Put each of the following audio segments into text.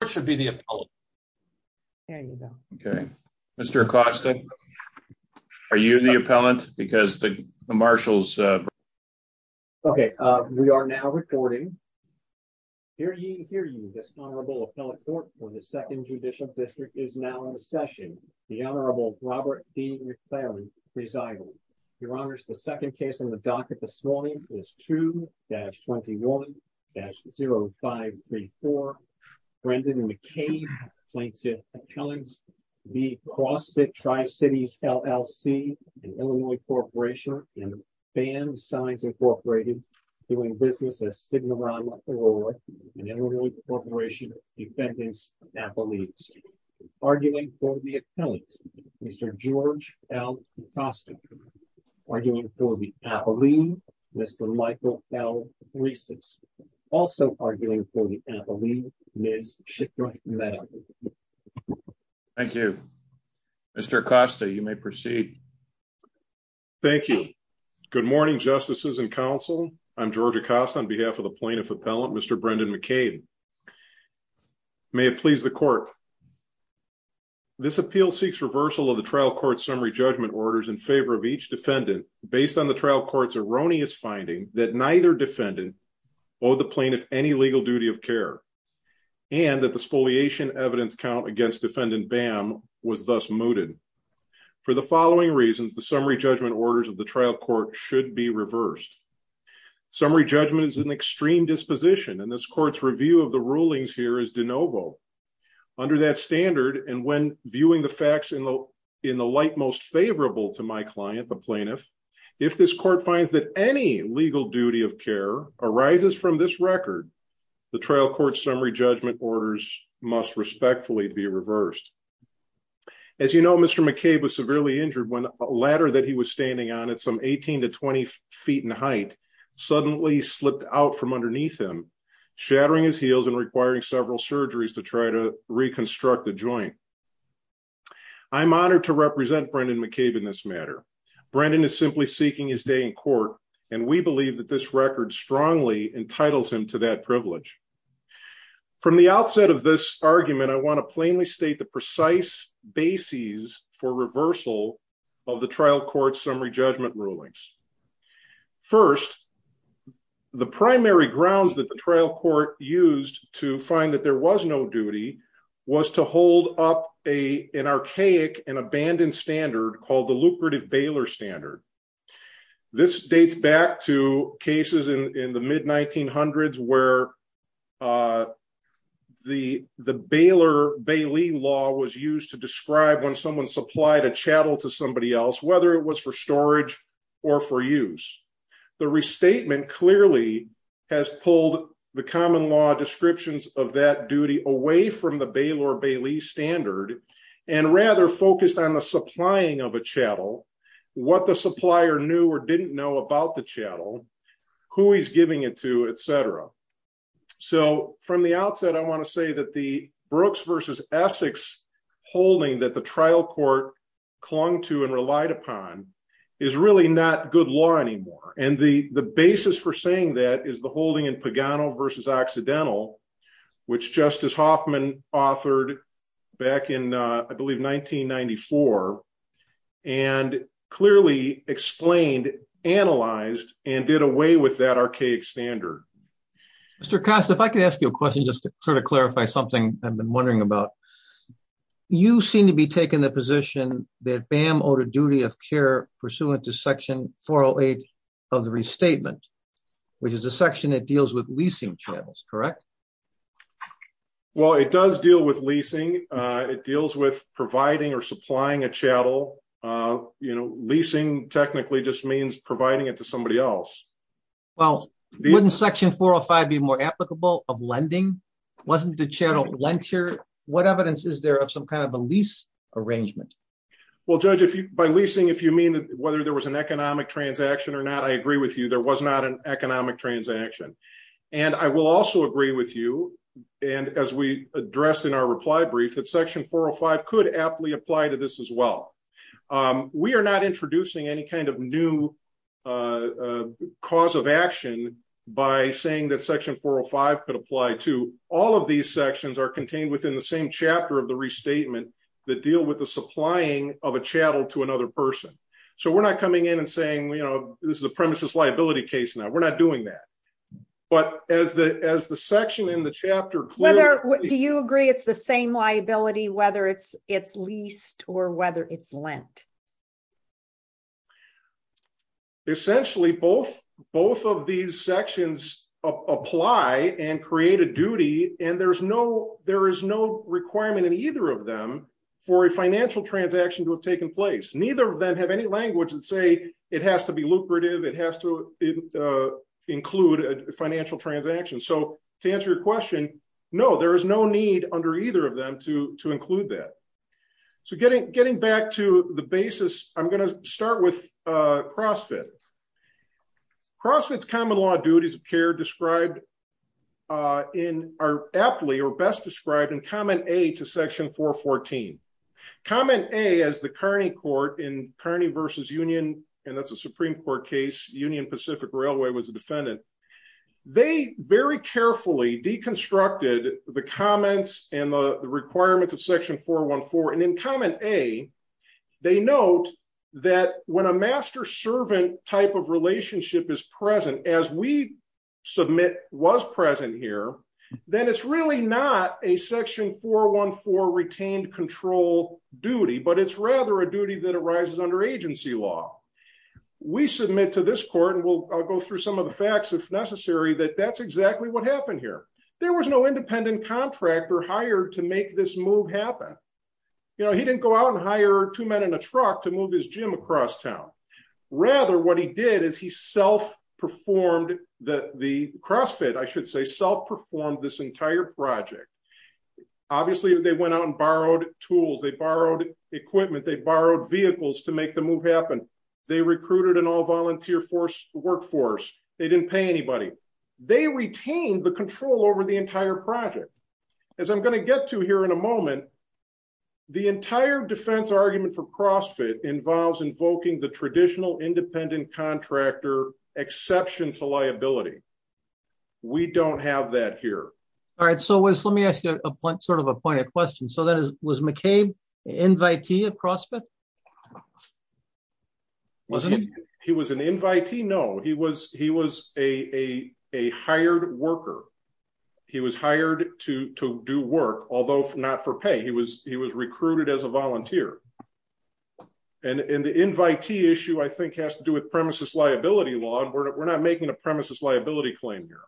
Robert D. McClary 2-21-0534 Robert D. McClary 2-21-0534 Robert D. McClary 2-21-0534 Thank you. Good morning, justices and counsel. I'm George Acosta on behalf of the plaintiff appellant, Mr. Brendan McCain. May it please the court. This appeal seeks reversal of the trial court summary judgment orders in favor of each defendant based on the trial court's erroneous finding that neither defendant or the plaintiff any legal duty of care and that the spoliation evidence count against defendant BAM was thus mooted. For the following reasons, the summary judgment orders of the trial court should be reversed. Summary judgment is an extreme disposition and this court's review of the rulings here is de novo. Under that standard and when viewing the facts in the light most favorable to my client, the plaintiff, if this court finds that any legal duty of care arises from this record, the trial court summary judgment orders must respectfully be reversed. As you know, Mr. McCabe was severely injured when a ladder that he was standing on at some 18 to 20 feet in height suddenly slipped out from underneath him, shattering his heels and requiring several surgeries to try to reconstruct the joint. I'm honored to represent Brendan McCabe in this matter. Brendan is simply seeking his day in court and we believe that this record strongly entitles him to that privilege. From the outset of this argument, I want to plainly state the precise bases for reversal of the trial court summary judgment rulings. First, the primary grounds that the trial court used to find that there was no duty was to hold up an archaic and abandoned standard called the lucrative bailer standard. This dates back to cases in the mid-1900s where the Baylor-Bailey law was used to describe when someone supplied a chattel to somebody else, whether it was for storage or for use. The restatement clearly has pulled the common law descriptions of that duty away from the supplier. From the outset, I want to say that the Brooks v. Essex holding that the trial court clung to and relied upon is really not good law anymore. The basis for saying that is the holding in Pagano v. Occidental, which Justice Hoffman authored back in I believe 1994. And clearly explained, analyzed, and did away with that archaic standard. Mr. Costa, if I could ask you a question just to sort of clarify something I've been wondering about. You seem to be taking the position that BAM owed a duty of care pursuant to section 408 of the restatement, which is the section that deals with leasing channels, correct? Well, it does deal with leasing. It deals with providing or supplying a chattel. You know, leasing technically just means providing it to somebody else. Well, wouldn't section 405 be more applicable of lending? Wasn't the chattel lent here? What evidence is there of some kind of a lease arrangement? Well, Judge, by leasing, if you mean whether there was an economic transaction or not, I agree with you, there was not an economic transaction. And I will also agree with you, and as we addressed in our reply brief, that section 405 could aptly apply to this as well. We are not introducing any kind of new cause of action by saying that section 405 could apply to. All of these sections are contained within the same chapter of the restatement that deal with the supplying of a chattel to another person. So we're not coming in and this is a premises liability case now. We're not doing that. But as the section in the chapter... Do you agree it's the same liability, whether it's leased or whether it's lent? Essentially, both of these sections apply and create a duty, and there is no requirement in either of them for a financial transaction to have taken place. Neither of them have any language that say it has to be lucrative, it has to include a financial transaction. So to answer your question, no, there is no need under either of them to include that. So getting back to the basis, I'm going to start with CrossFit. CrossFit's common law duties of care are aptly or best and that's a Supreme Court case. Union Pacific Railway was a defendant. They very carefully deconstructed the comments and the requirements of section 414. And in comment A, they note that when a master-servant type of relationship is present, as we submit was present here, then it's really not a section 414 retained control duty, but it's rather a duty that arises under agency law. We submit to this court, and I'll go through some of the facts if necessary, that that's exactly what happened here. There was no independent contractor hired to make this move happen. You know, he didn't go out and hire two men in a truck to move his gym across town. Rather, what he did is he self-performed the CrossFit, I should say, self-performed this entire project. Obviously, they went out and borrowed tools, they borrowed equipment, they made the move happen. They recruited an all-volunteer workforce. They didn't pay anybody. They retained the control over the entire project. As I'm going to get to here in a moment, the entire defense argument for CrossFit involves invoking the traditional independent contractor exception to liability. We don't have that here. All right, so let me ask you a point, a question. So was McCabe an invitee of CrossFit? He was an invitee? No, he was a hired worker. He was hired to do work, although not for pay. He was recruited as a volunteer. And the invitee issue, I think, has to do with premises liability law. We're not making a premises liability claim here.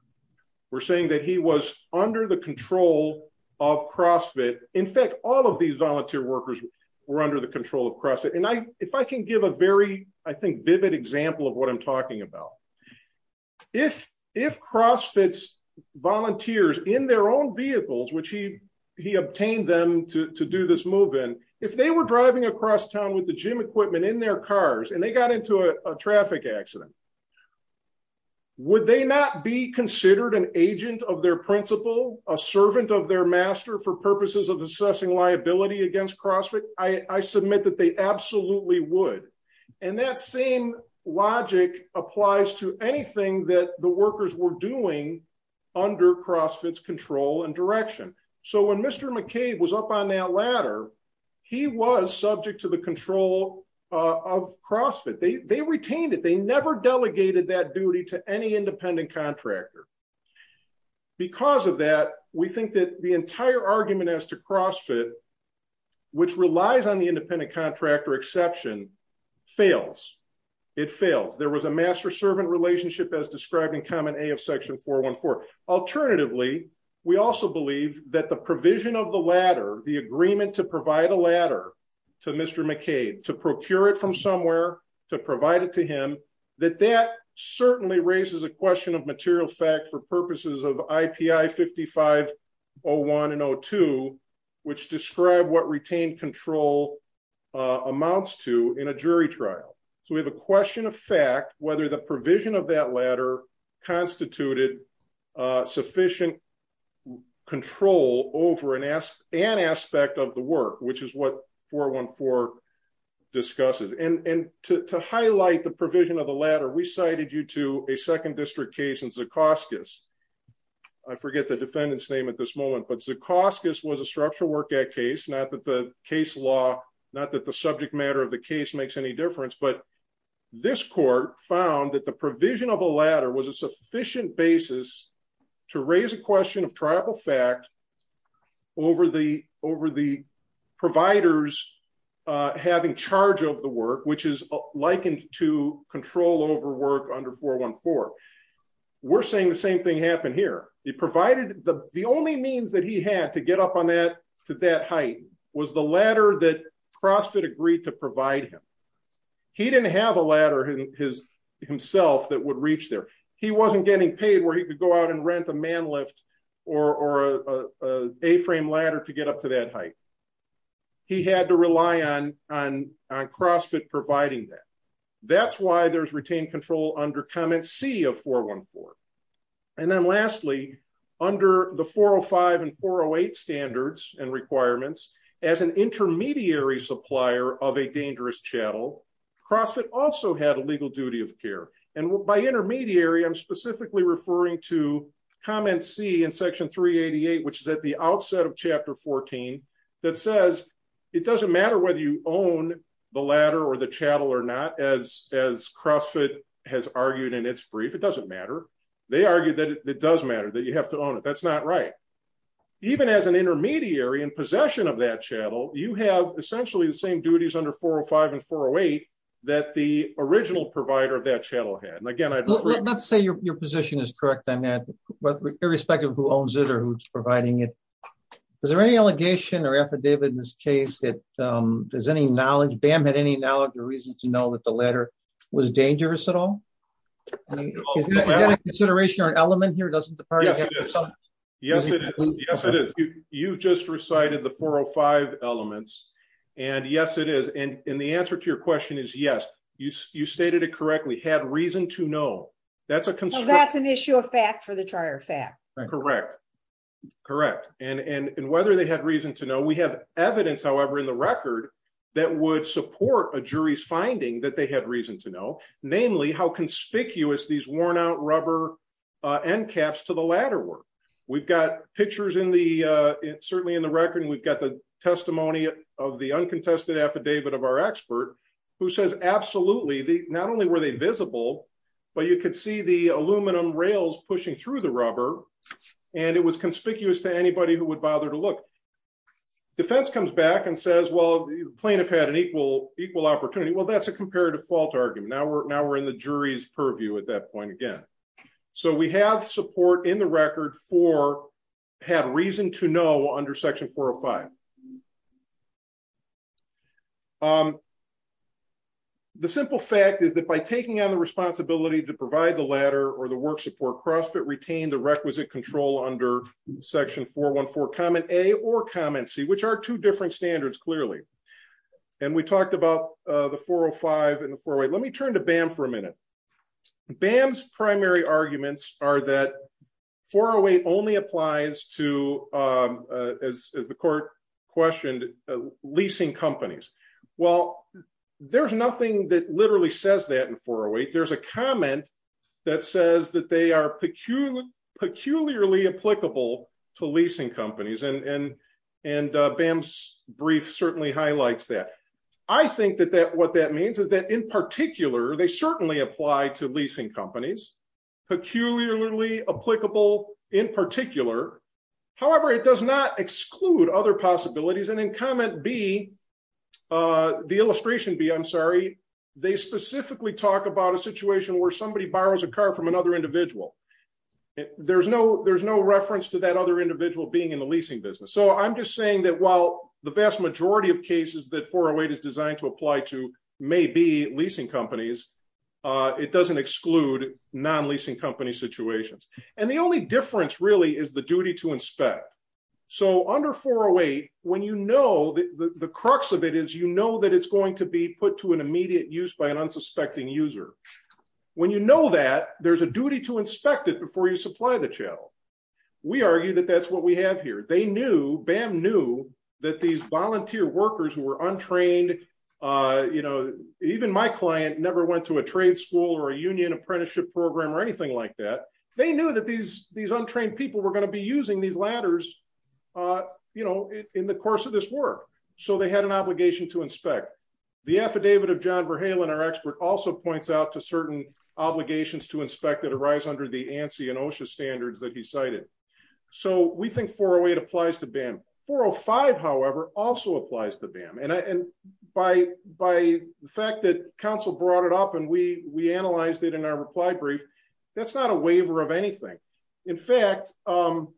We're saying that he was under the control of CrossFit. In fact, all of these volunteer workers were under the control of CrossFit. And if I can give a very, I think, vivid example of what I'm talking about. If CrossFit's volunteers in their own vehicles, which he obtained them to do this move in, if they were driving across town with the gym equipment in their cars and they got into a their master for purposes of assessing liability against CrossFit, I submit that they absolutely would. And that same logic applies to anything that the workers were doing under CrossFit's control and direction. So when Mr. McCabe was up on that ladder, he was subject to the control of CrossFit. They retained it. They never delegated that duty to any independent contractor. Because of that, we think that the entire argument as to CrossFit, which relies on the independent contractor exception, fails. It fails. There was a master-servant relationship as described in Comment A of Section 414. Alternatively, we also believe that the provision of the ladder, the agreement to provide a ladder to Mr. McCabe, to procure it from somewhere, to provide it to him, that that certainly raises a question of material fact for purposes of IPI 55-01 and 02, which describe what retained control amounts to in a jury trial. So we have a question of fact whether the provision of that ladder constituted sufficient control over an aspect of the work, which is what 414 discusses. And to highlight the provision of the ladder, we cited you to a second district case in Zacoskis. I forget the defendant's name at this moment, but Zacoskis was a structural work act case. Not that the case law, not that the subject matter of the case makes any difference, but this court found that the provision of a ladder was a sufficient basis to raise a question of tribal fact over the providers having charge of the work, which is likened to control over work under 414. We're saying the same thing happened here. It provided, the only means that he had to get up on that to that height was the ladder that CrossFit agreed to provide him. He didn't have a ladder himself that would reach there. He wasn't getting paid where he could go out and rent a man lift or a frame ladder to get up to that height. He had to rely on CrossFit providing that. That's why there's retained control under comment C of 414. And then lastly, under the 405 and 408 standards and requirements as an intermediary supplier of a dangerous chattel, CrossFit also had a legal duty of care. And by intermediary, I'm specifically referring to comment C in section 388, which is at the outset of chapter 14, that says it doesn't matter whether you own the ladder or the chattel or not, as CrossFit has argued in its brief, it doesn't matter. They argued that it does matter that you have to own it. That's not right. Even as an intermediary in possession of that chattel, you have essentially the same duties under 405 and 408 that the original provider of that chattel had. And again, let's say your position is correct on that, irrespective of who owns it or who's providing it. Is there any allegation or affidavit in this case that there's any knowledge BAM had any knowledge or reason to know that the ladder was dangerous at all? Is that a consideration or an element here? Yes, it is. You've just recited the 405 elements. And yes, it is. And that's an issue of fact for the charter of fact. Correct. Correct. And whether they had reason to know we have evidence, however, in the record, that would support a jury's finding that they had reason to know, namely how conspicuous these worn out rubber end caps to the ladder work. We've got pictures in the certainly in the record, we've got the testimony of the uncontested affidavit of our expert who says absolutely the not only were they visible, but you could see the aluminum rails pushing through the rubber. And it was conspicuous to anybody who would bother to look. Defense comes back and says, well, plaintiff had an equal equal opportunity. Well, that's a comparative fault argument. Now we're now we're in the jury's purview at that point again. So we have support in the record for have reason to know under section 405. The simple fact is that by taking on the responsibility to provide the ladder or the work support CrossFit retain the requisite control under section 414, comment A or comment C, which are two different standards clearly. And we talked about the 405 in the four way. Let me turn to BAM for a minute. BAM's primary arguments are that 408 only applies to, as the court questioned, leasing companies. Well, there's nothing that literally says that in 408. There's a comment that says that they are peculiarly, peculiarly applicable to leasing companies. And, and, and BAM's brief certainly highlights that. I think that that what that means is that in particular, they certainly apply to leasing companies, peculiarly applicable in particular. However, it does not exclude other possibilities. And in comment B, the illustration B, I'm sorry, they specifically talk about a situation where somebody borrows a car from another individual. There's no there's no reference to that other individual being in the leasing business. So I'm just saying that while the vast majority of cases that 408 is designed to apply to may be leasing companies, it doesn't exclude non-leasing company situations. And the only difference really is the duty to inspect. So under 408, when you know that the crux of it is, you know, that it's going to be put to an immediate use by an unsuspecting user. When you know that there's a duty to inspect it before you supply the channel. We argue that that's what we have here. They knew, BAM knew that these volunteer workers who were untrained, you know, even my client never went to a trade school or a union apprenticeship program or anything like that. They knew that these untrained people were going to be using these ladders, you know, in the course of this work. So they had an obligation to inspect. The affidavit of John Verhalen, our expert also points out to certain obligations to inspect that arise under the ANSI and OSHA standards that he cited. So we think 408 applies to BAM. 405, however, also applies to BAM. And by the fact that council brought it up and we analyzed it in our reply brief, that's not a waiver of anything. In fact, the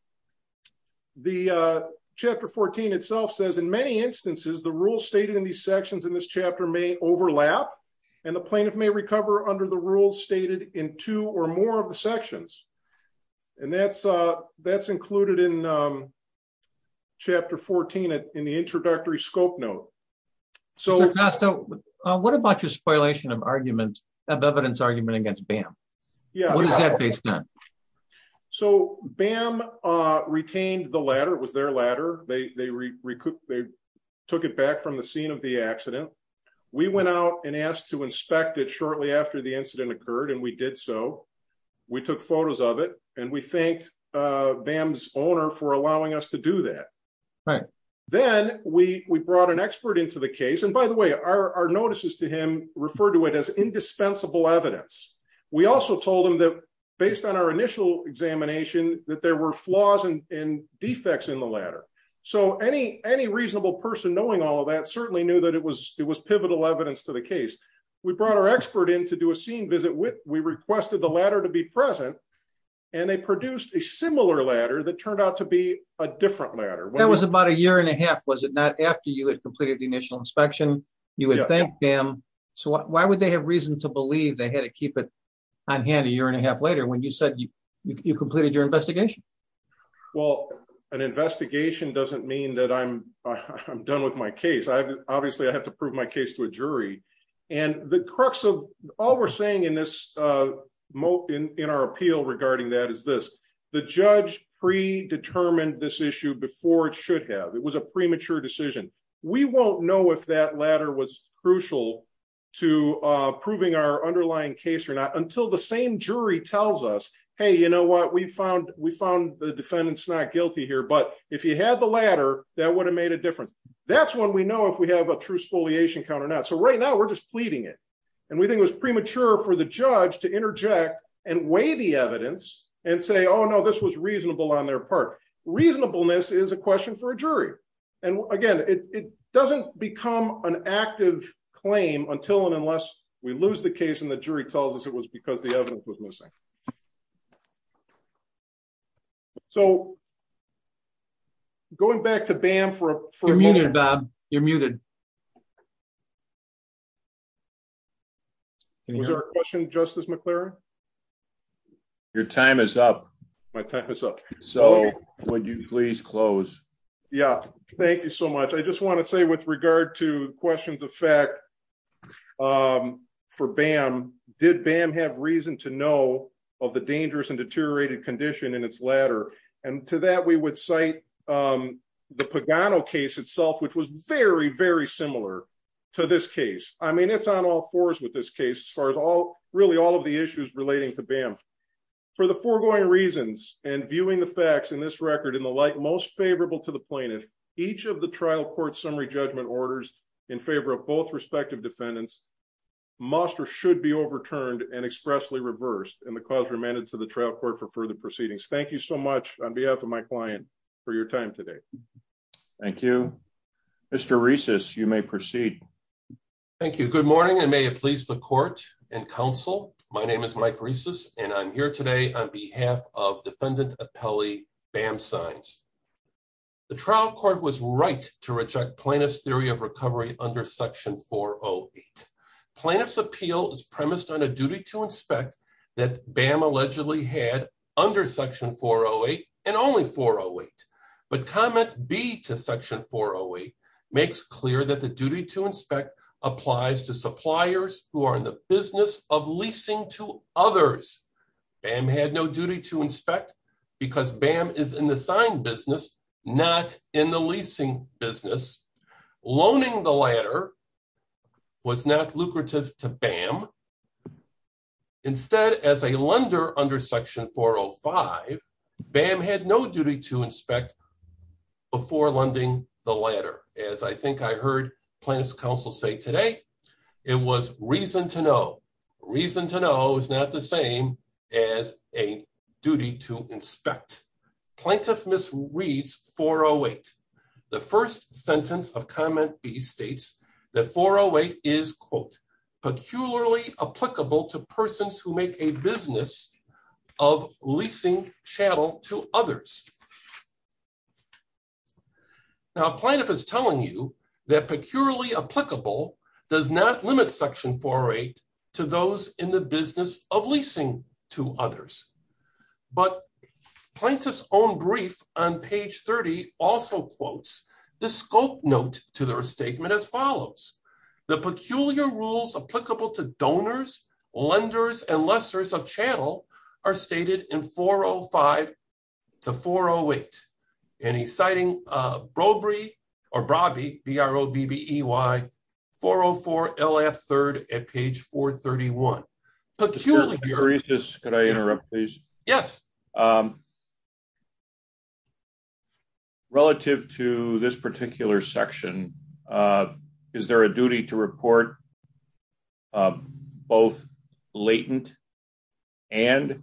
chapter 14 itself says, in many instances, the rules stated in these sections in this chapter may overlap and the plaintiff may recover under the rules stated in two or more of the sections. And that's included in chapter 14 in the introductory scope note. So what about your spoilation of argument, of evidence argument against BAM? What is that based on? So BAM retained the ladder. It was their ladder. They took it back from the scene of the accident. We went out and asked to inspect it shortly after the incident occurred and we did so. We took photos of it and we thanked BAM's allowing us to do that. Then we brought an expert into the case. And by the way, our notices to him refer to it as indispensable evidence. We also told him that based on our initial examination, that there were flaws and defects in the ladder. So any reasonable person knowing all of that certainly knew that it was pivotal evidence to the case. We brought our expert in to do a scene visit. We requested the ladder to be present and they produced a similar ladder that turned out to be a different ladder. That was about a year and a half. Was it not after you had completed the initial inspection? You had thanked BAM. So why would they have reason to believe they had to keep it on hand a year and a half later when you said you completed your investigation? Well, an investigation doesn't mean that I'm done with my case. Obviously, I have to prove my case to a jury. And the crux of all we're saying in our appeal regarding that is this. The judge predetermined this issue before it should have. It was a premature decision. We won't know if that ladder was crucial to proving our underlying case or not until the same jury tells us, hey, you know what? We found the defendants not guilty here. But if you had the ladder, that would have made a difference. That's when we know if we have a true spoliation count or not. So right now we're just pleading it. And we think it was premature for the judge to interject and weigh the evidence and say, oh, no, this was reasonable on their part. Reasonableness is a question for a jury. And again, it doesn't become an active claim until and unless we lose the case and the jury tells us it was because the evidence was missing. So going back to BAM for a minute. You're muted, Bob. You're muted. Was there a question, Justice McClaren? Your time is up. My time is up. So would you please close? Yeah. Thank you so much. I just want to say with regard to questions of fact for BAM, did BAM have reason to know of the dangerous and deteriorated condition in its ladder? And to that, we would cite the Pagano case itself, which was very, very similar to this case. I mean, it's on all fours with this case as far as really all of the issues relating to BAM. For the foregoing reasons and viewing the facts in this record in the light most favorable to the plaintiff, each of the trial court summary judgment orders in favor of both respective defendants must or should be overturned and expressly reversed. And the clause remanded to the trial court for further proceedings. Thank you so much on behalf of my client for your time today. Thank you. Mr. Reces, you may proceed. Thank you. Good morning and may it please the court and counsel. My name is Mike Reces and I'm here today on behalf of defendant appellee BAM Signs. The trial court was right to reject plaintiff's theory of recovery under section 408. Plaintiff's appeal is premised on a duty to inspect that BAM allegedly had under section 408 and only 408. But comment B to section 408 makes clear that the duty to inspect applies to suppliers who are in the business of leasing to others. BAM had no duty to inspect because BAM is in the sign business, not in the leasing business. Loaning the latter was not lucrative to BAM. Instead, as a lender under section 405, BAM had no duty to inspect before lending the latter. As I think I heard plaintiff's counsel say today, it was reason to know. Reason to know is not the same as a duty to inspect. Plaintiff misreads section 408. The first sentence of comment B states that 408 is, quote, peculiarly applicable to persons who make a business of leasing chattel to others. Now plaintiff is telling you that peculiarly applicable does not limit section 408 to those in the business of leasing to others. But plaintiff's own brief on page 30 also quotes the scope note to their statement as follows. The peculiar rules applicable to donors, lenders, and lessors of chattel are stated in 405 to 408. And he's citing Brobry, or Brobby, B-R-O-B-B-E-Y, 404 LF 3rd at page 431. »» Could I interrupt, please? »» Yes. »» Relative to this particular section, is there a duty to report both latent and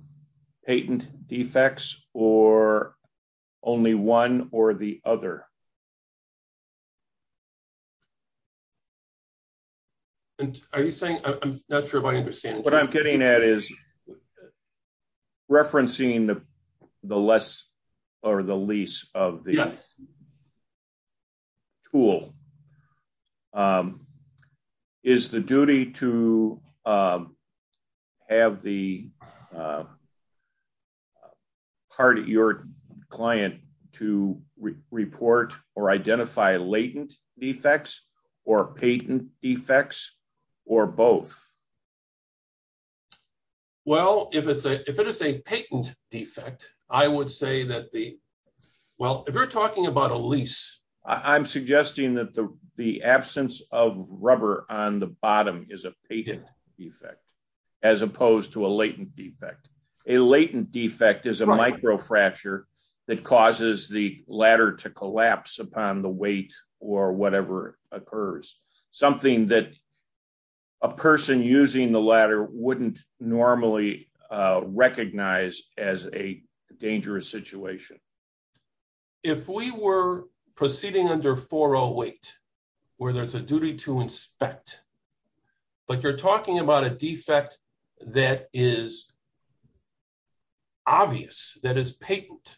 patent defects or only one or the other? »» Are you saying, I'm not sure if I understand. »» What I'm getting at is referencing the less or the lease of the tool. Is the duty to have the part of your client to report or identify latent defects or patent defects or both? »» Well, if it is a patent defect, I would say that the, well, if you're talking about a lease. I'm suggesting that the absence of rubber on the bottom is a patent defect as opposed to a latent defect. A latent defect is a micro fracture that causes the ladder to collapse upon the weight or whatever occurs. Something that a person using the ladder wouldn't normally recognize as a dangerous situation. If we were proceeding under 408, where there's a duty to inspect, but you're talking about a defect that is obvious, that is patent,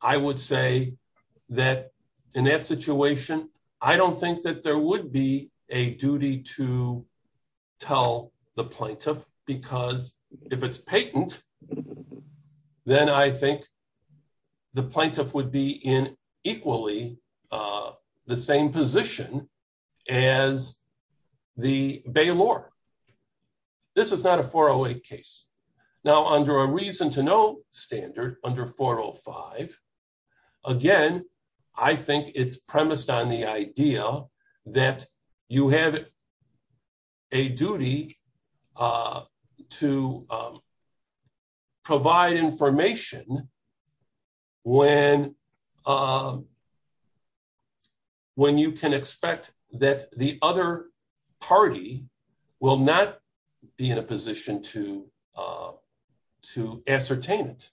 I would say that in that situation, I don't think that there would be a duty to tell the plaintiff because if it's patent, then I think the plaintiff would be in equally the same position as the bailor. This is not a 408 case. Now, under a reason to know standard, under 405, again, I think it's premised on the idea that you have a duty to provide information when you can expect that the other party will not be in a position to ascertain it.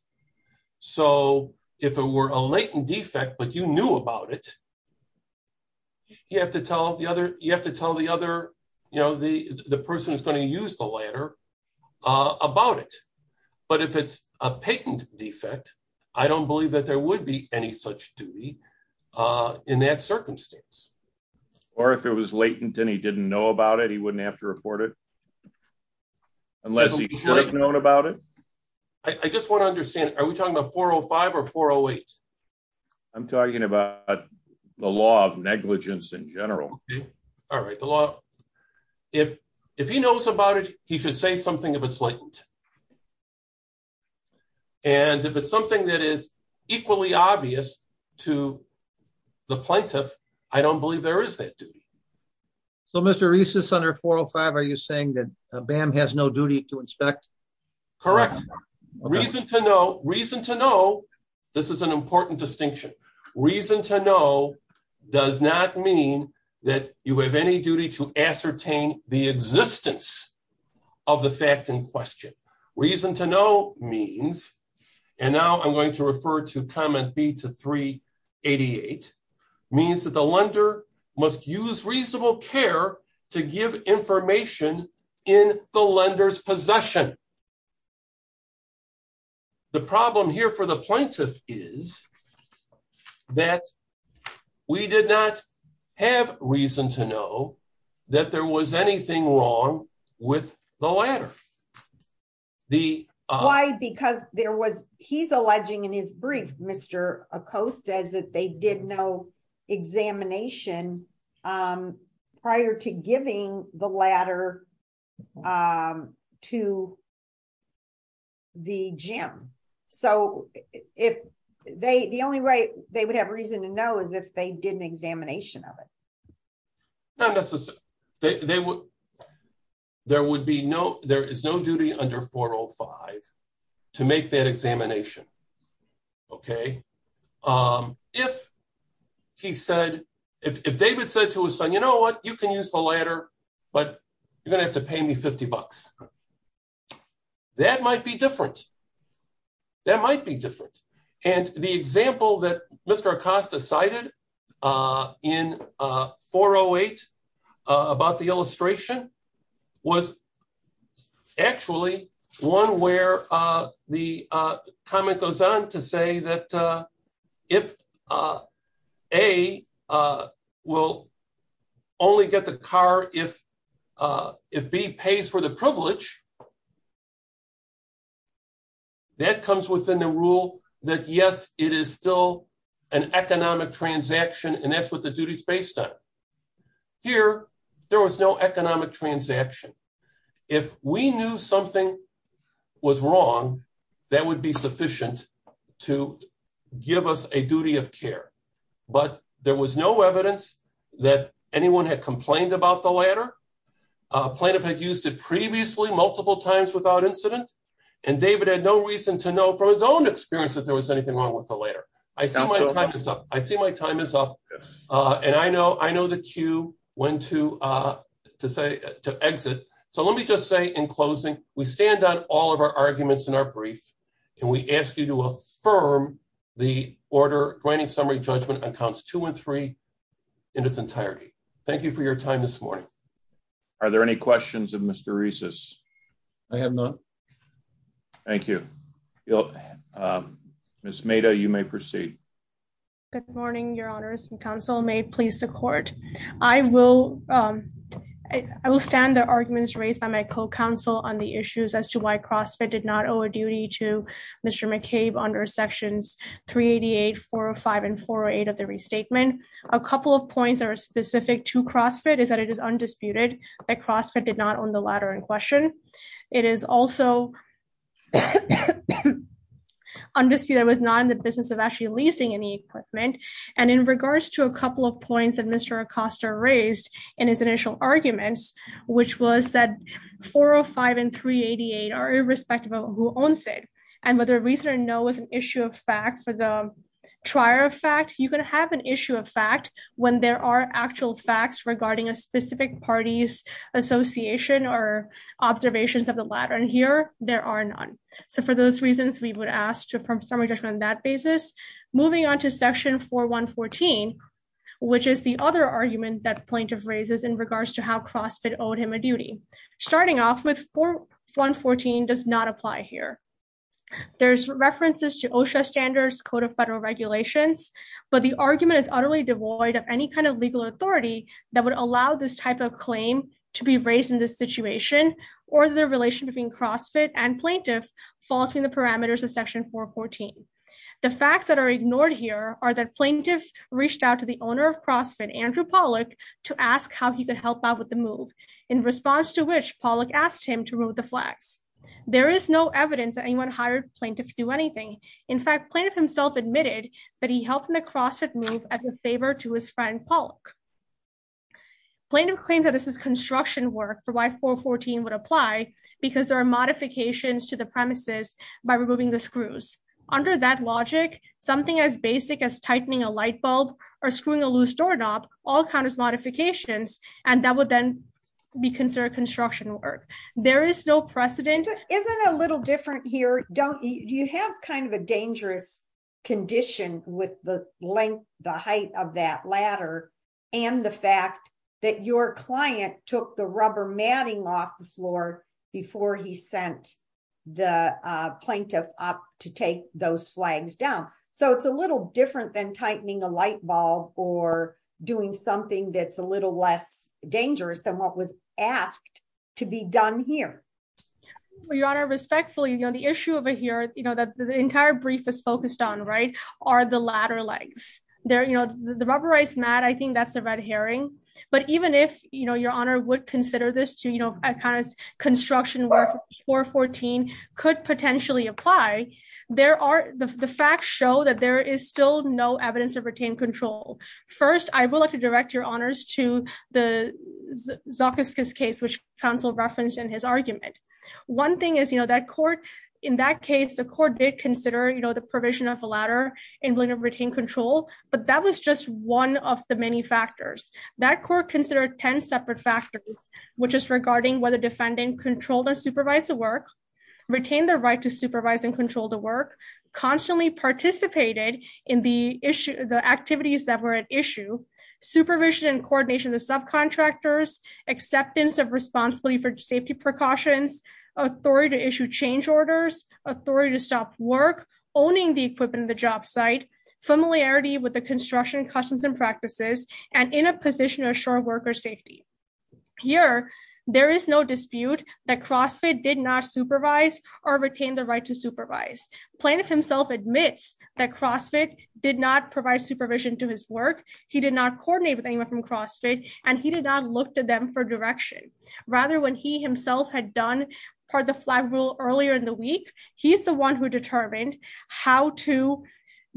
If it were a latent defect, but you knew about it, you have to tell the person who's going to use the ladder about it. But if it's a patent defect, I don't believe that there would be any such duty in that circumstance. Or if it was latent and he didn't know about it, he wouldn't have to report it? Unless he should have known about it? I just want to understand, are we talking about 405 or 408? I'm talking about the law of negligence in general. All right. If he knows about it, he should say something if it's latent. And if it's something that is equally obvious to the plaintiff, I don't believe there is that duty. So, Mr. Reese, under 405, are you saying that BAM has no duty to inspect? Correct. Reason to know, this is an important distinction. Reason to know does not mean that you have any duty to ascertain the existence of the fact in question. Reason to know means, and now I'm going to refer to comment B to 388, means that the lender must use reasonable care to give information in the lender's possession. The problem here for the plaintiff is that we did not have reason to know that there was anything wrong with the ladder. Why? Because there was, he's alleging in his brief, Mr. Acosta, that they did no examination prior to giving the ladder to the gym. So, the only way they would have reason to know is if did an examination of it. Not necessarily. There is no duty under 405 to make that examination. If David said to his son, you know what, you can use the ladder, but you're going to have to pay me 50 bucks. That might be different. That might be different. The example that Mr. Acosta cited in 408 about the illustration was actually one where the comment goes on to say that if A will only get the car if B pays for the privilege, that comes within the rule that, yes, it is still an economic transaction, and that's what the duty is based on. Here, there was no economic transaction. If we knew something was wrong, that would be sufficient to give us a duty of care. But there was no evidence that anyone had incident, and David had no reason to know from his own experience that there was anything wrong with the ladder. I see my time is up. I see my time is up, and I know the cue when to exit. So, let me just say in closing, we stand on all of our arguments in our brief, and we ask you to affirm the order, writing summary judgment on counts two and three in its entirety. Thank you for your time this morning. Are there any questions of Mr. Reiss? I have none. Thank you. Ms. Mehta, you may proceed. Good morning, Your Honors. The Council may please support. I will stand the arguments raised by my co-counsel on the issues as to why CrossFit did not owe a duty to Mr. McCabe under sections 388, 405, and 408 of the restatement. A couple of points that are specific to CrossFit is that it is undisputed that CrossFit did not own the ladder in question. It is also undisputed that it was not in the business of actually leasing any equipment. And in regards to a couple of points that Mr. Acosta raised in his initial arguments, which was that 405 and 388 are irrespective of who owns it, and whether reason or no is an issue of fact for the trier of fact, you can have an issue of fact when there are actual facts regarding a specific party's association or observations of the ladder. And here, there are none. So for those reasons, we would ask to affirm summary judgment on that basis. Moving on to section 4114, which is the other argument that plaintiff raises in regards to how CrossFit owed him a duty. Starting off with 4114 does not apply here. There's references to Code of Federal Regulations, but the argument is utterly devoid of any kind of legal authority that would allow this type of claim to be raised in this situation or their relation between CrossFit and plaintiff falls within the parameters of section 414. The facts that are ignored here are that plaintiff reached out to the owner of CrossFit, Andrew Pollack, to ask how he could help out with the move, in response to which Pollack asked him to remove the flags. There is no evidence that anyone hired plaintiff to do anything. In fact, plaintiff himself admitted that he helped in the CrossFit move as a favor to his friend Pollack. Plaintiff claims that this is construction work for why 414 would apply, because there are modifications to the premises by removing the screws. Under that logic, something as basic as tightening a light bulb or screwing a loose doorknob all count as modifications, and that would then be considered construction work. There is no precedent. Isn't it a little different here? You have kind of a dangerous condition with the length, the height of that ladder, and the fact that your client took the rubber matting off the floor before he sent the plaintiff up to take those flags down. So it's a little different than tightening a light bulb or doing something that's a little less dangerous than what was asked to be done here. Your Honor, respectfully, the issue over here that the entire brief is focused on are the ladder legs. The rubberized mat, I think that's a red herring. But even if Your Honor would consider this to be construction work, 414 could potentially apply. The facts show that there is still no evidence of retained control. First, I would like to direct Your Honors to the Zokoskis case, which counsel referenced in his argument. One thing is, in that case, the court did consider the provision of a ladder in blatant retained control, but that was just one of the many factors. That court considered 10 separate factors, which is regarding whether defendant controlled and supervised the work, retained the right to supervise and control the work, constantly participated in the activities that were at issue, supervision and coordination of the subcontractors, acceptance of responsibility for safety precautions, authority to issue change orders, authority to stop work, owning the equipment in the job site, familiarity with the construction customs and practices, and in a position to assure worker safety. Here, there is no dispute that CrossFit did not supervise or retain the right to supervise. Plaintiff himself admits that CrossFit did not provide supervision to his work, he did not coordinate with anyone from CrossFit, and he did not look to them for direction. Rather, when he himself had done part of the flag rule earlier in the week, he's the one who determined how to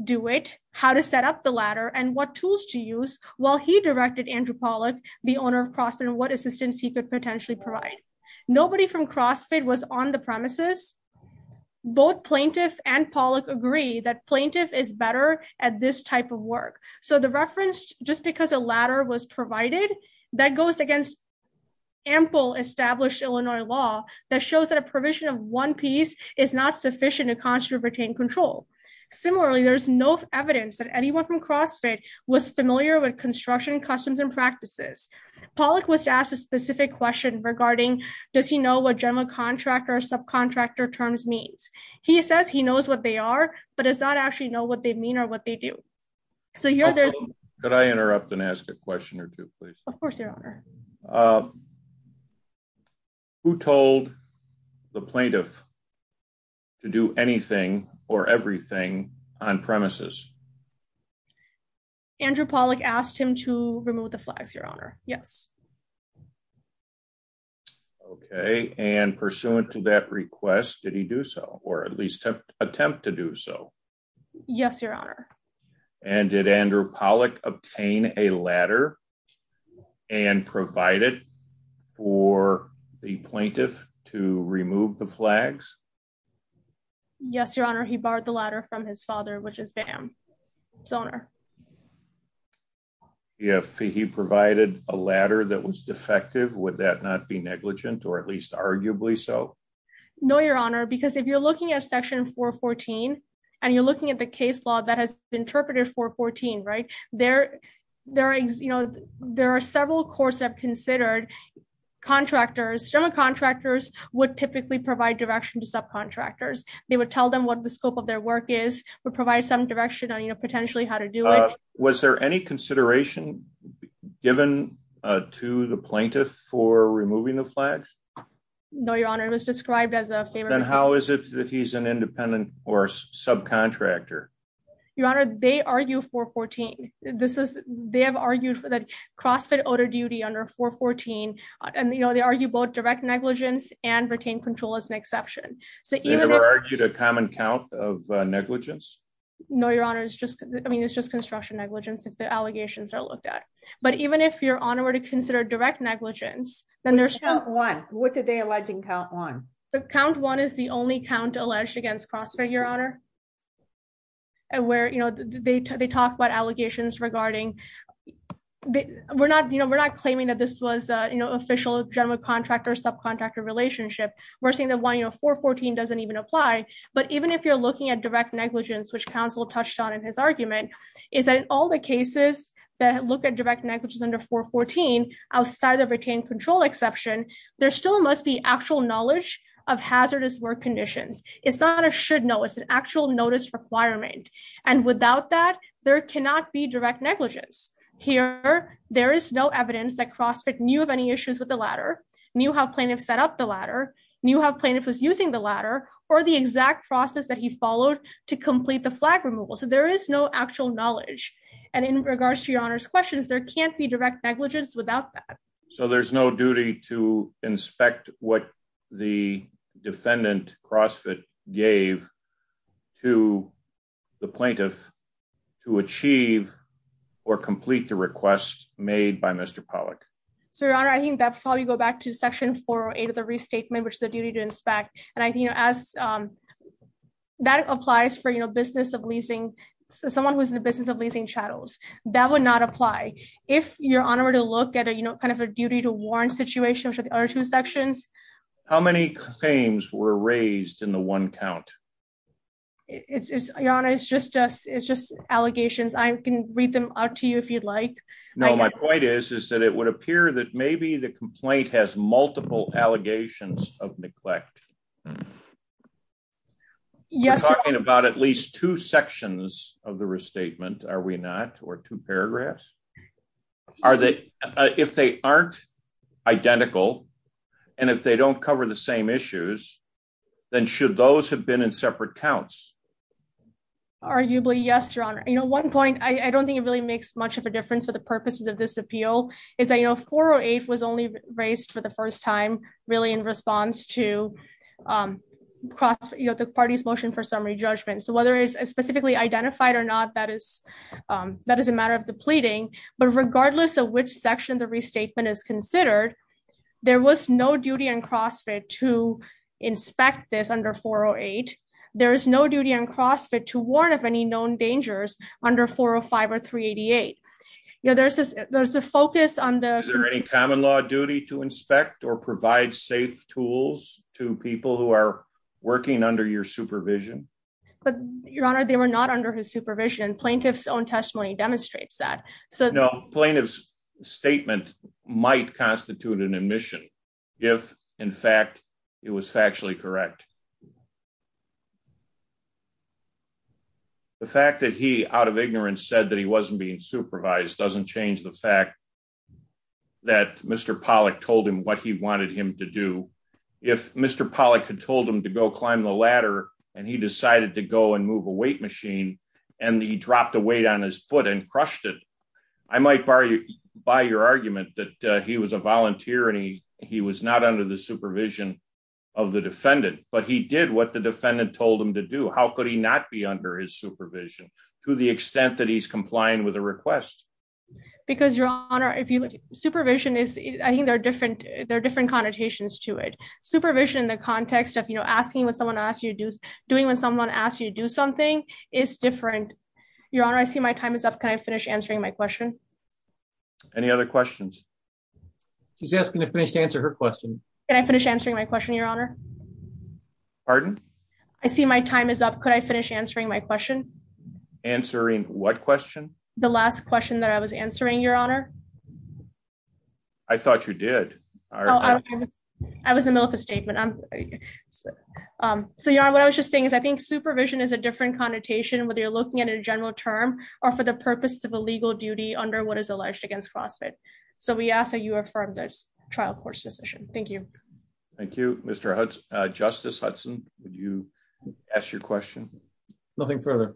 do it, how to set up the ladder, and what tools to use while he directed Andrew Pollack, the owner of CrossFit, and what assistance he could potentially provide. Nobody from CrossFit was on the premises. Both Plaintiff and Pollack agree that Plaintiff is better at this type of work. So the reference, just because a ladder was provided, that goes against ample established Illinois law that shows that a provision of one piece is not sufficient to constantly retain control. Similarly, there's no evidence that anyone from CrossFit was familiar with construction customs and practices. Pollack was asked a specific question regarding, does he know what general contractor or subcontractor terms means? He says he knows what they are, but does not actually know what they mean or what they do. So here... Could I interrupt and ask a question or two, please? Of course, your honor. Who told the plaintiff to do anything or everything on premises? Andrew Pollack asked him to remove the flags, your honor. Yes. Okay, and pursuant to that request, did he do so, or at least attempt to do so? Yes, your honor. And did Andrew Pollack obtain a ladder and provide it for the plaintiff to remove the flags? Yes, your honor. He borrowed the ladder from his father, which is Bam's owner. If he provided a ladder that was defective, would that not be negligent, or at least arguably so? No, your honor, because if you're looking at section 414, and you're looking at the case law that has interpreted 414, right? There are several courts that have considered contractors. General contractors would typically provide direction to subcontractors. They would tell them what the scope of their work is, but provide some direction on potentially how to do it. Was there any consideration given to the plaintiff for removing the flags? No, your honor. It was described as a favor. Then how is it that he's an independent or subcontractor? Your honor, they argue 414. They have argued for the CrossFit odor duty under 414, and they argue both direct negligence and retained control as an exception. They never argued a common count of negligence? No, your honor. It's just construction negligence if the allegations are looked at. But even if your honor were to consider direct negligence, then there's... Count one. What did they allege in count one? Count one is the only count alleged against CrossFit, your honor, where they talk about allegations regarding... We're not claiming that this was an official general contractor subcontractor relationship. We're saying that 414 doesn't even apply. But even if you're looking at direct negligence, which counsel touched on in his argument, is that in all the cases that look at direct negligence under 414 outside of retained control exception, there still must be actual knowledge of hazardous work conditions. It's not a should know. It's an actual notice requirement. And without that, there cannot be direct negligence. Here, there is no evidence that CrossFit knew of any issues with the ladder, knew how plaintiff set up the ladder, knew how plaintiff was using the ladder, or the exact process that he followed to complete the flag removal. So there is no actual knowledge. And in regards to your honor's questions, there can't be direct negligence without that. So there's no duty to inspect what the defendant, CrossFit, gave to the plaintiff to achieve or complete the request made by Mr. Pollack. So your honor, I think that probably go back to section 408 of the restatement, which is the duty to inspect. And I think as that applies for someone who's in the business of leasing chattels, that would not apply. If your honor were to look at a duty to warrant situation, which are the other two sections. How many claims were raised in the one count? It's just allegations. I can read them out to you if you'd like. No, my point is, is that it would appear that maybe the complaint has multiple allegations of neglect. We're talking about at least two sections of the restatement, are we not, or two paragraphs? If they aren't identical, and if they don't cover the same issues, then should those have been in separate counts? Arguably yes, your honor. One point, I don't think it really makes much of a difference for the purposes of this appeal, is that 408 was only raised for the first time, really in response to the party's motion for summary judgment. So whether it's specifically identified or not, that is a matter of the pleading, but regardless of which section the restatement is considered, there was no duty in CrossFit to inspect this under 408. There is no duty in CrossFit to warrant of any known dangers under 405 or 388. There's a focus on the... Is there any common law duty to inspect or provide safe tools to people who are working under your supervision? Your honor, they were not under his supervision. Plaintiff's own testimony demonstrates that. No, plaintiff's statement might constitute an admission, if in fact it was factually correct. The fact that he, out of ignorance, said that he wasn't being supervised doesn't change the fact that Mr. Pollack told him what he wanted him to do. If Mr. Pollack had told him to go climb the ladder, and he decided to go and move a weight machine, and he dropped a weight on his foot and crushed it, I might buy your argument that he was a volunteer and he was not under the supervision of the defendant, but he did what the defendant told him to do. How could he not be under his supervision to the extent that he's complying with a request? Because, your honor, if you look, supervision is... I think there are different connotations to it. Supervision in the context of, you know, asking when someone asks you to do something is different. Your honor, I see my time is up. Can I finish answering my question? Any other questions? She's asking if they should answer her question. Can I finish answering my question, your honor? Pardon? I see my time is up. Could I finish answering my question? Answering what question? The last question that I was answering, your honor. I thought you did. I was in the middle of a statement. So, your honor, what I was just saying is I think supervision is a different connotation, whether you're looking at a general term or for the purpose of a legal duty under what is alleged against CrossFit. So, we ask that you affirm this trial court's decision. Thank you. Thank you, Mr. Hudson. Justice Hudson, would you ask your question? Nothing further.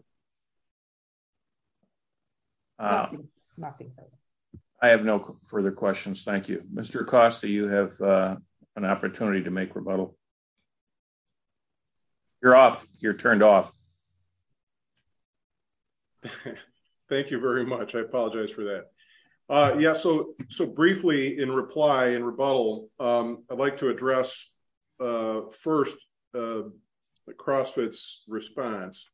I have no further questions. Thank you. Mr. Acosta, you have an opportunity to make rebuttal. You're off. You're turned off. Thank you very much. I apologize for that. Yeah. So, briefly in reply and rebuttal, I'd like to address first CrossFit's response.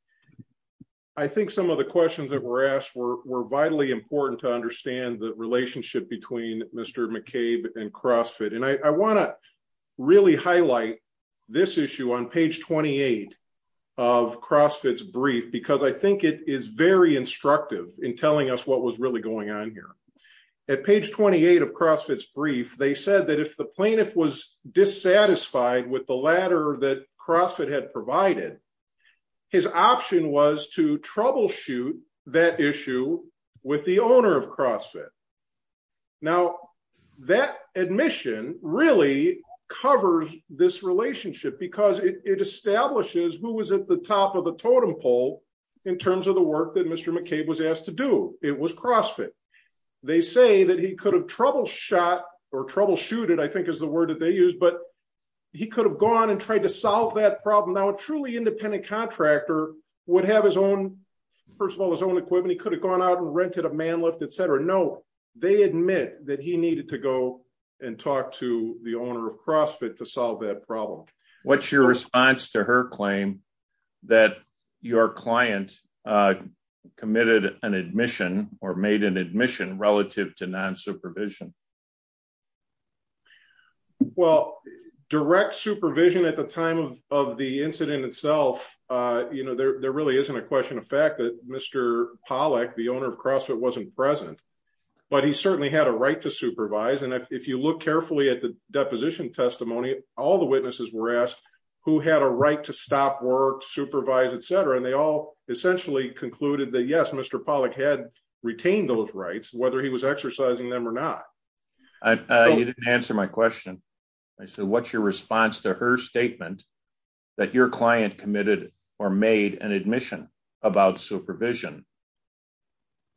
I think some of the questions that were asked were vitally important to understand the relationship between Mr. McCabe and CrossFit. And I want to really highlight this issue on page 28 of CrossFit's brief because I think it is very instructive in telling us what was really going on here. At page 28 of CrossFit's brief, they said that if the plaintiff was dissatisfied with the ladder that CrossFit had provided, his option was to troubleshoot that issue with the owner of CrossFit. Now, that admission really covers this relationship because it establishes who was at the top of the totem pole in terms of the work that Mr. McCabe was asked to do. It was CrossFit. They say that he could have troubleshot or troubleshooted, I think is the word that they use, but he could have gone and tried to solve that problem. Now, a truly independent contractor would have his own, first of all, his own equipment. He could have gone out and rented a man lift, etc. No, they admit that he needed to go and talk to the owner of CrossFit to solve that problem. What's your response to her claim that your client committed an admission or made an admission relative to non-supervision? Well, direct supervision at the time of the incident itself, there really isn't a question of fact that Mr. Pollack, the owner of CrossFit, wasn't present, but he certainly had a right to supervise. If you look carefully at the deposition testimony, all the witnesses were asked who had a right to stop work, supervise, etc. They all essentially concluded that, yes, Mr. Pollack had retained those rights, whether he was exercising them or not. You didn't answer my question. I said, what's your response to her statement that your client committed or made an admission about supervision?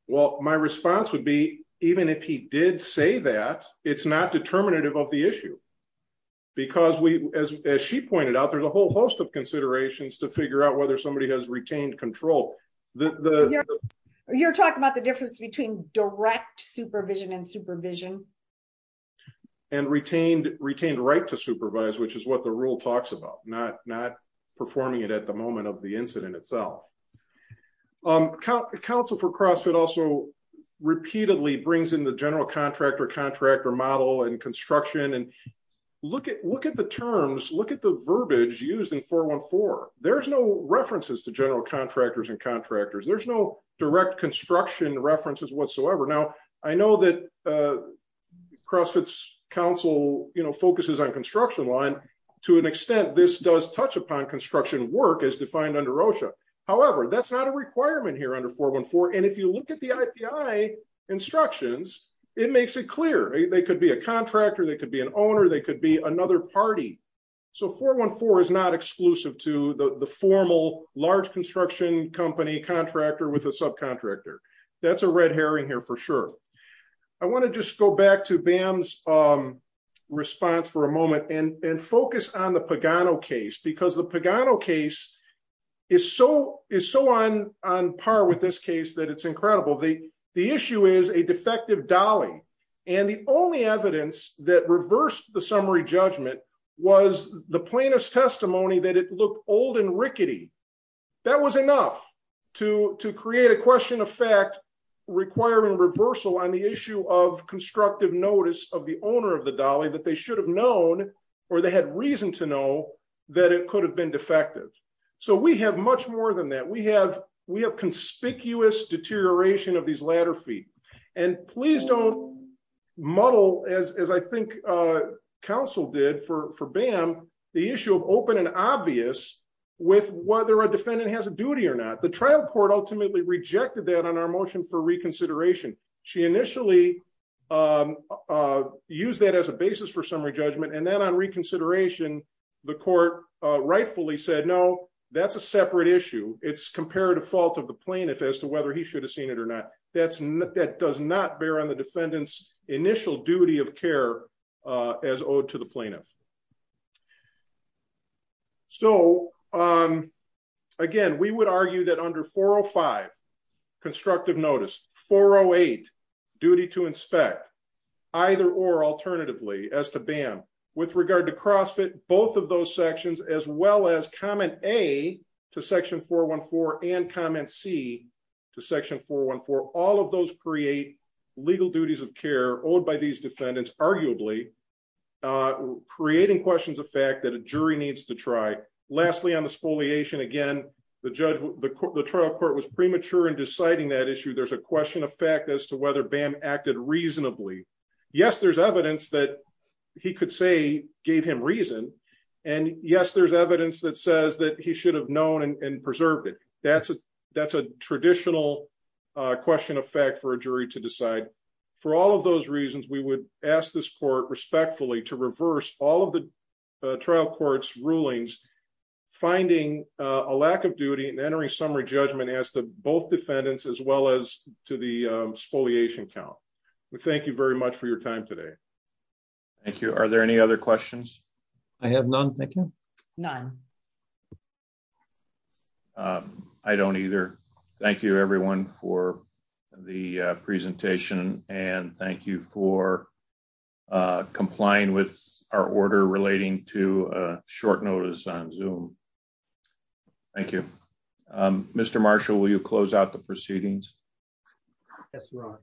Well, my response would be, even if he did say that, it's not determinative of the issue. As she pointed out, there's a whole host of considerations to figure out whether somebody has retained control. You're talking about the difference between direct supervision and supervision? And retained right to supervise, which is what the rule talks about, not performing it at the moment of the incident itself. Council for CrossFit also repeatedly brings in the general contractor, contractor model and construction. Look at the terms, look at the verbiage used in 414. There's no references to general contractors and contractors. There's no direct construction references whatsoever. Now, I know that CrossFit's council focuses on construction line. To an extent, this does touch upon construction work as defined under OSHA. However, that's not a requirement here under 414. And if you look at the IPI instructions, it makes it clear they could be a contractor, they could be an owner, they could be another party. So 414 is not exclusive to the formal large construction company contractor with a subcontractor. That's a red to Bam's response for a moment and focus on the Pagano case because the Pagano case is so on par with this case that it's incredible. The issue is a defective dolly. And the only evidence that reversed the summary judgment was the plaintiff's testimony that it looked old and owner of the dolly that they should have known or they had reason to know that it could have been defective. So we have much more than that. We have conspicuous deterioration of these latter feet. And please don't muddle as I think council did for Bam, the issue of open and obvious with whether a defendant has a duty or not. The trial court ultimately rejected that on our motion for use that as a basis for summary judgment. And then on reconsideration, the court rightfully said no, that's a separate issue. It's compared to fault of the plaintiff as to whether he should have seen it or not. That's not that does not bear on the defendants initial duty of care as owed to the plaintiff. So again, we would argue that under 405, constructive notice 408, duty to inspect either or alternatively as to Bam. With regard to CrossFit, both of those sections as well as comment A to section 414 and comment C to section 414, all of those create legal duties of care owed by these defendants, arguably creating questions of fact that a jury needs to try. Lastly, on the spoliation, again, the trial court was premature in deciding that Bam acted reasonably. Yes, there's evidence that he could say gave him reason. And yes, there's evidence that says that he should have known and preserved it. That's a traditional question of fact for a jury to decide. For all of those reasons, we would ask this court respectfully to reverse all of the trial court's rulings, finding a lack of duty and entering summary judgment as to both defendants as well as to the spoliation count. We thank you very much for your time today. Thank you. Are there any other questions? I have none. None. I don't either. Thank you, everyone for the presentation. And thank you for complying with our order relating to short notice on Zoom. Thank you. Mr. Marshall, will you close out the proceedings? Yes, Your Honor.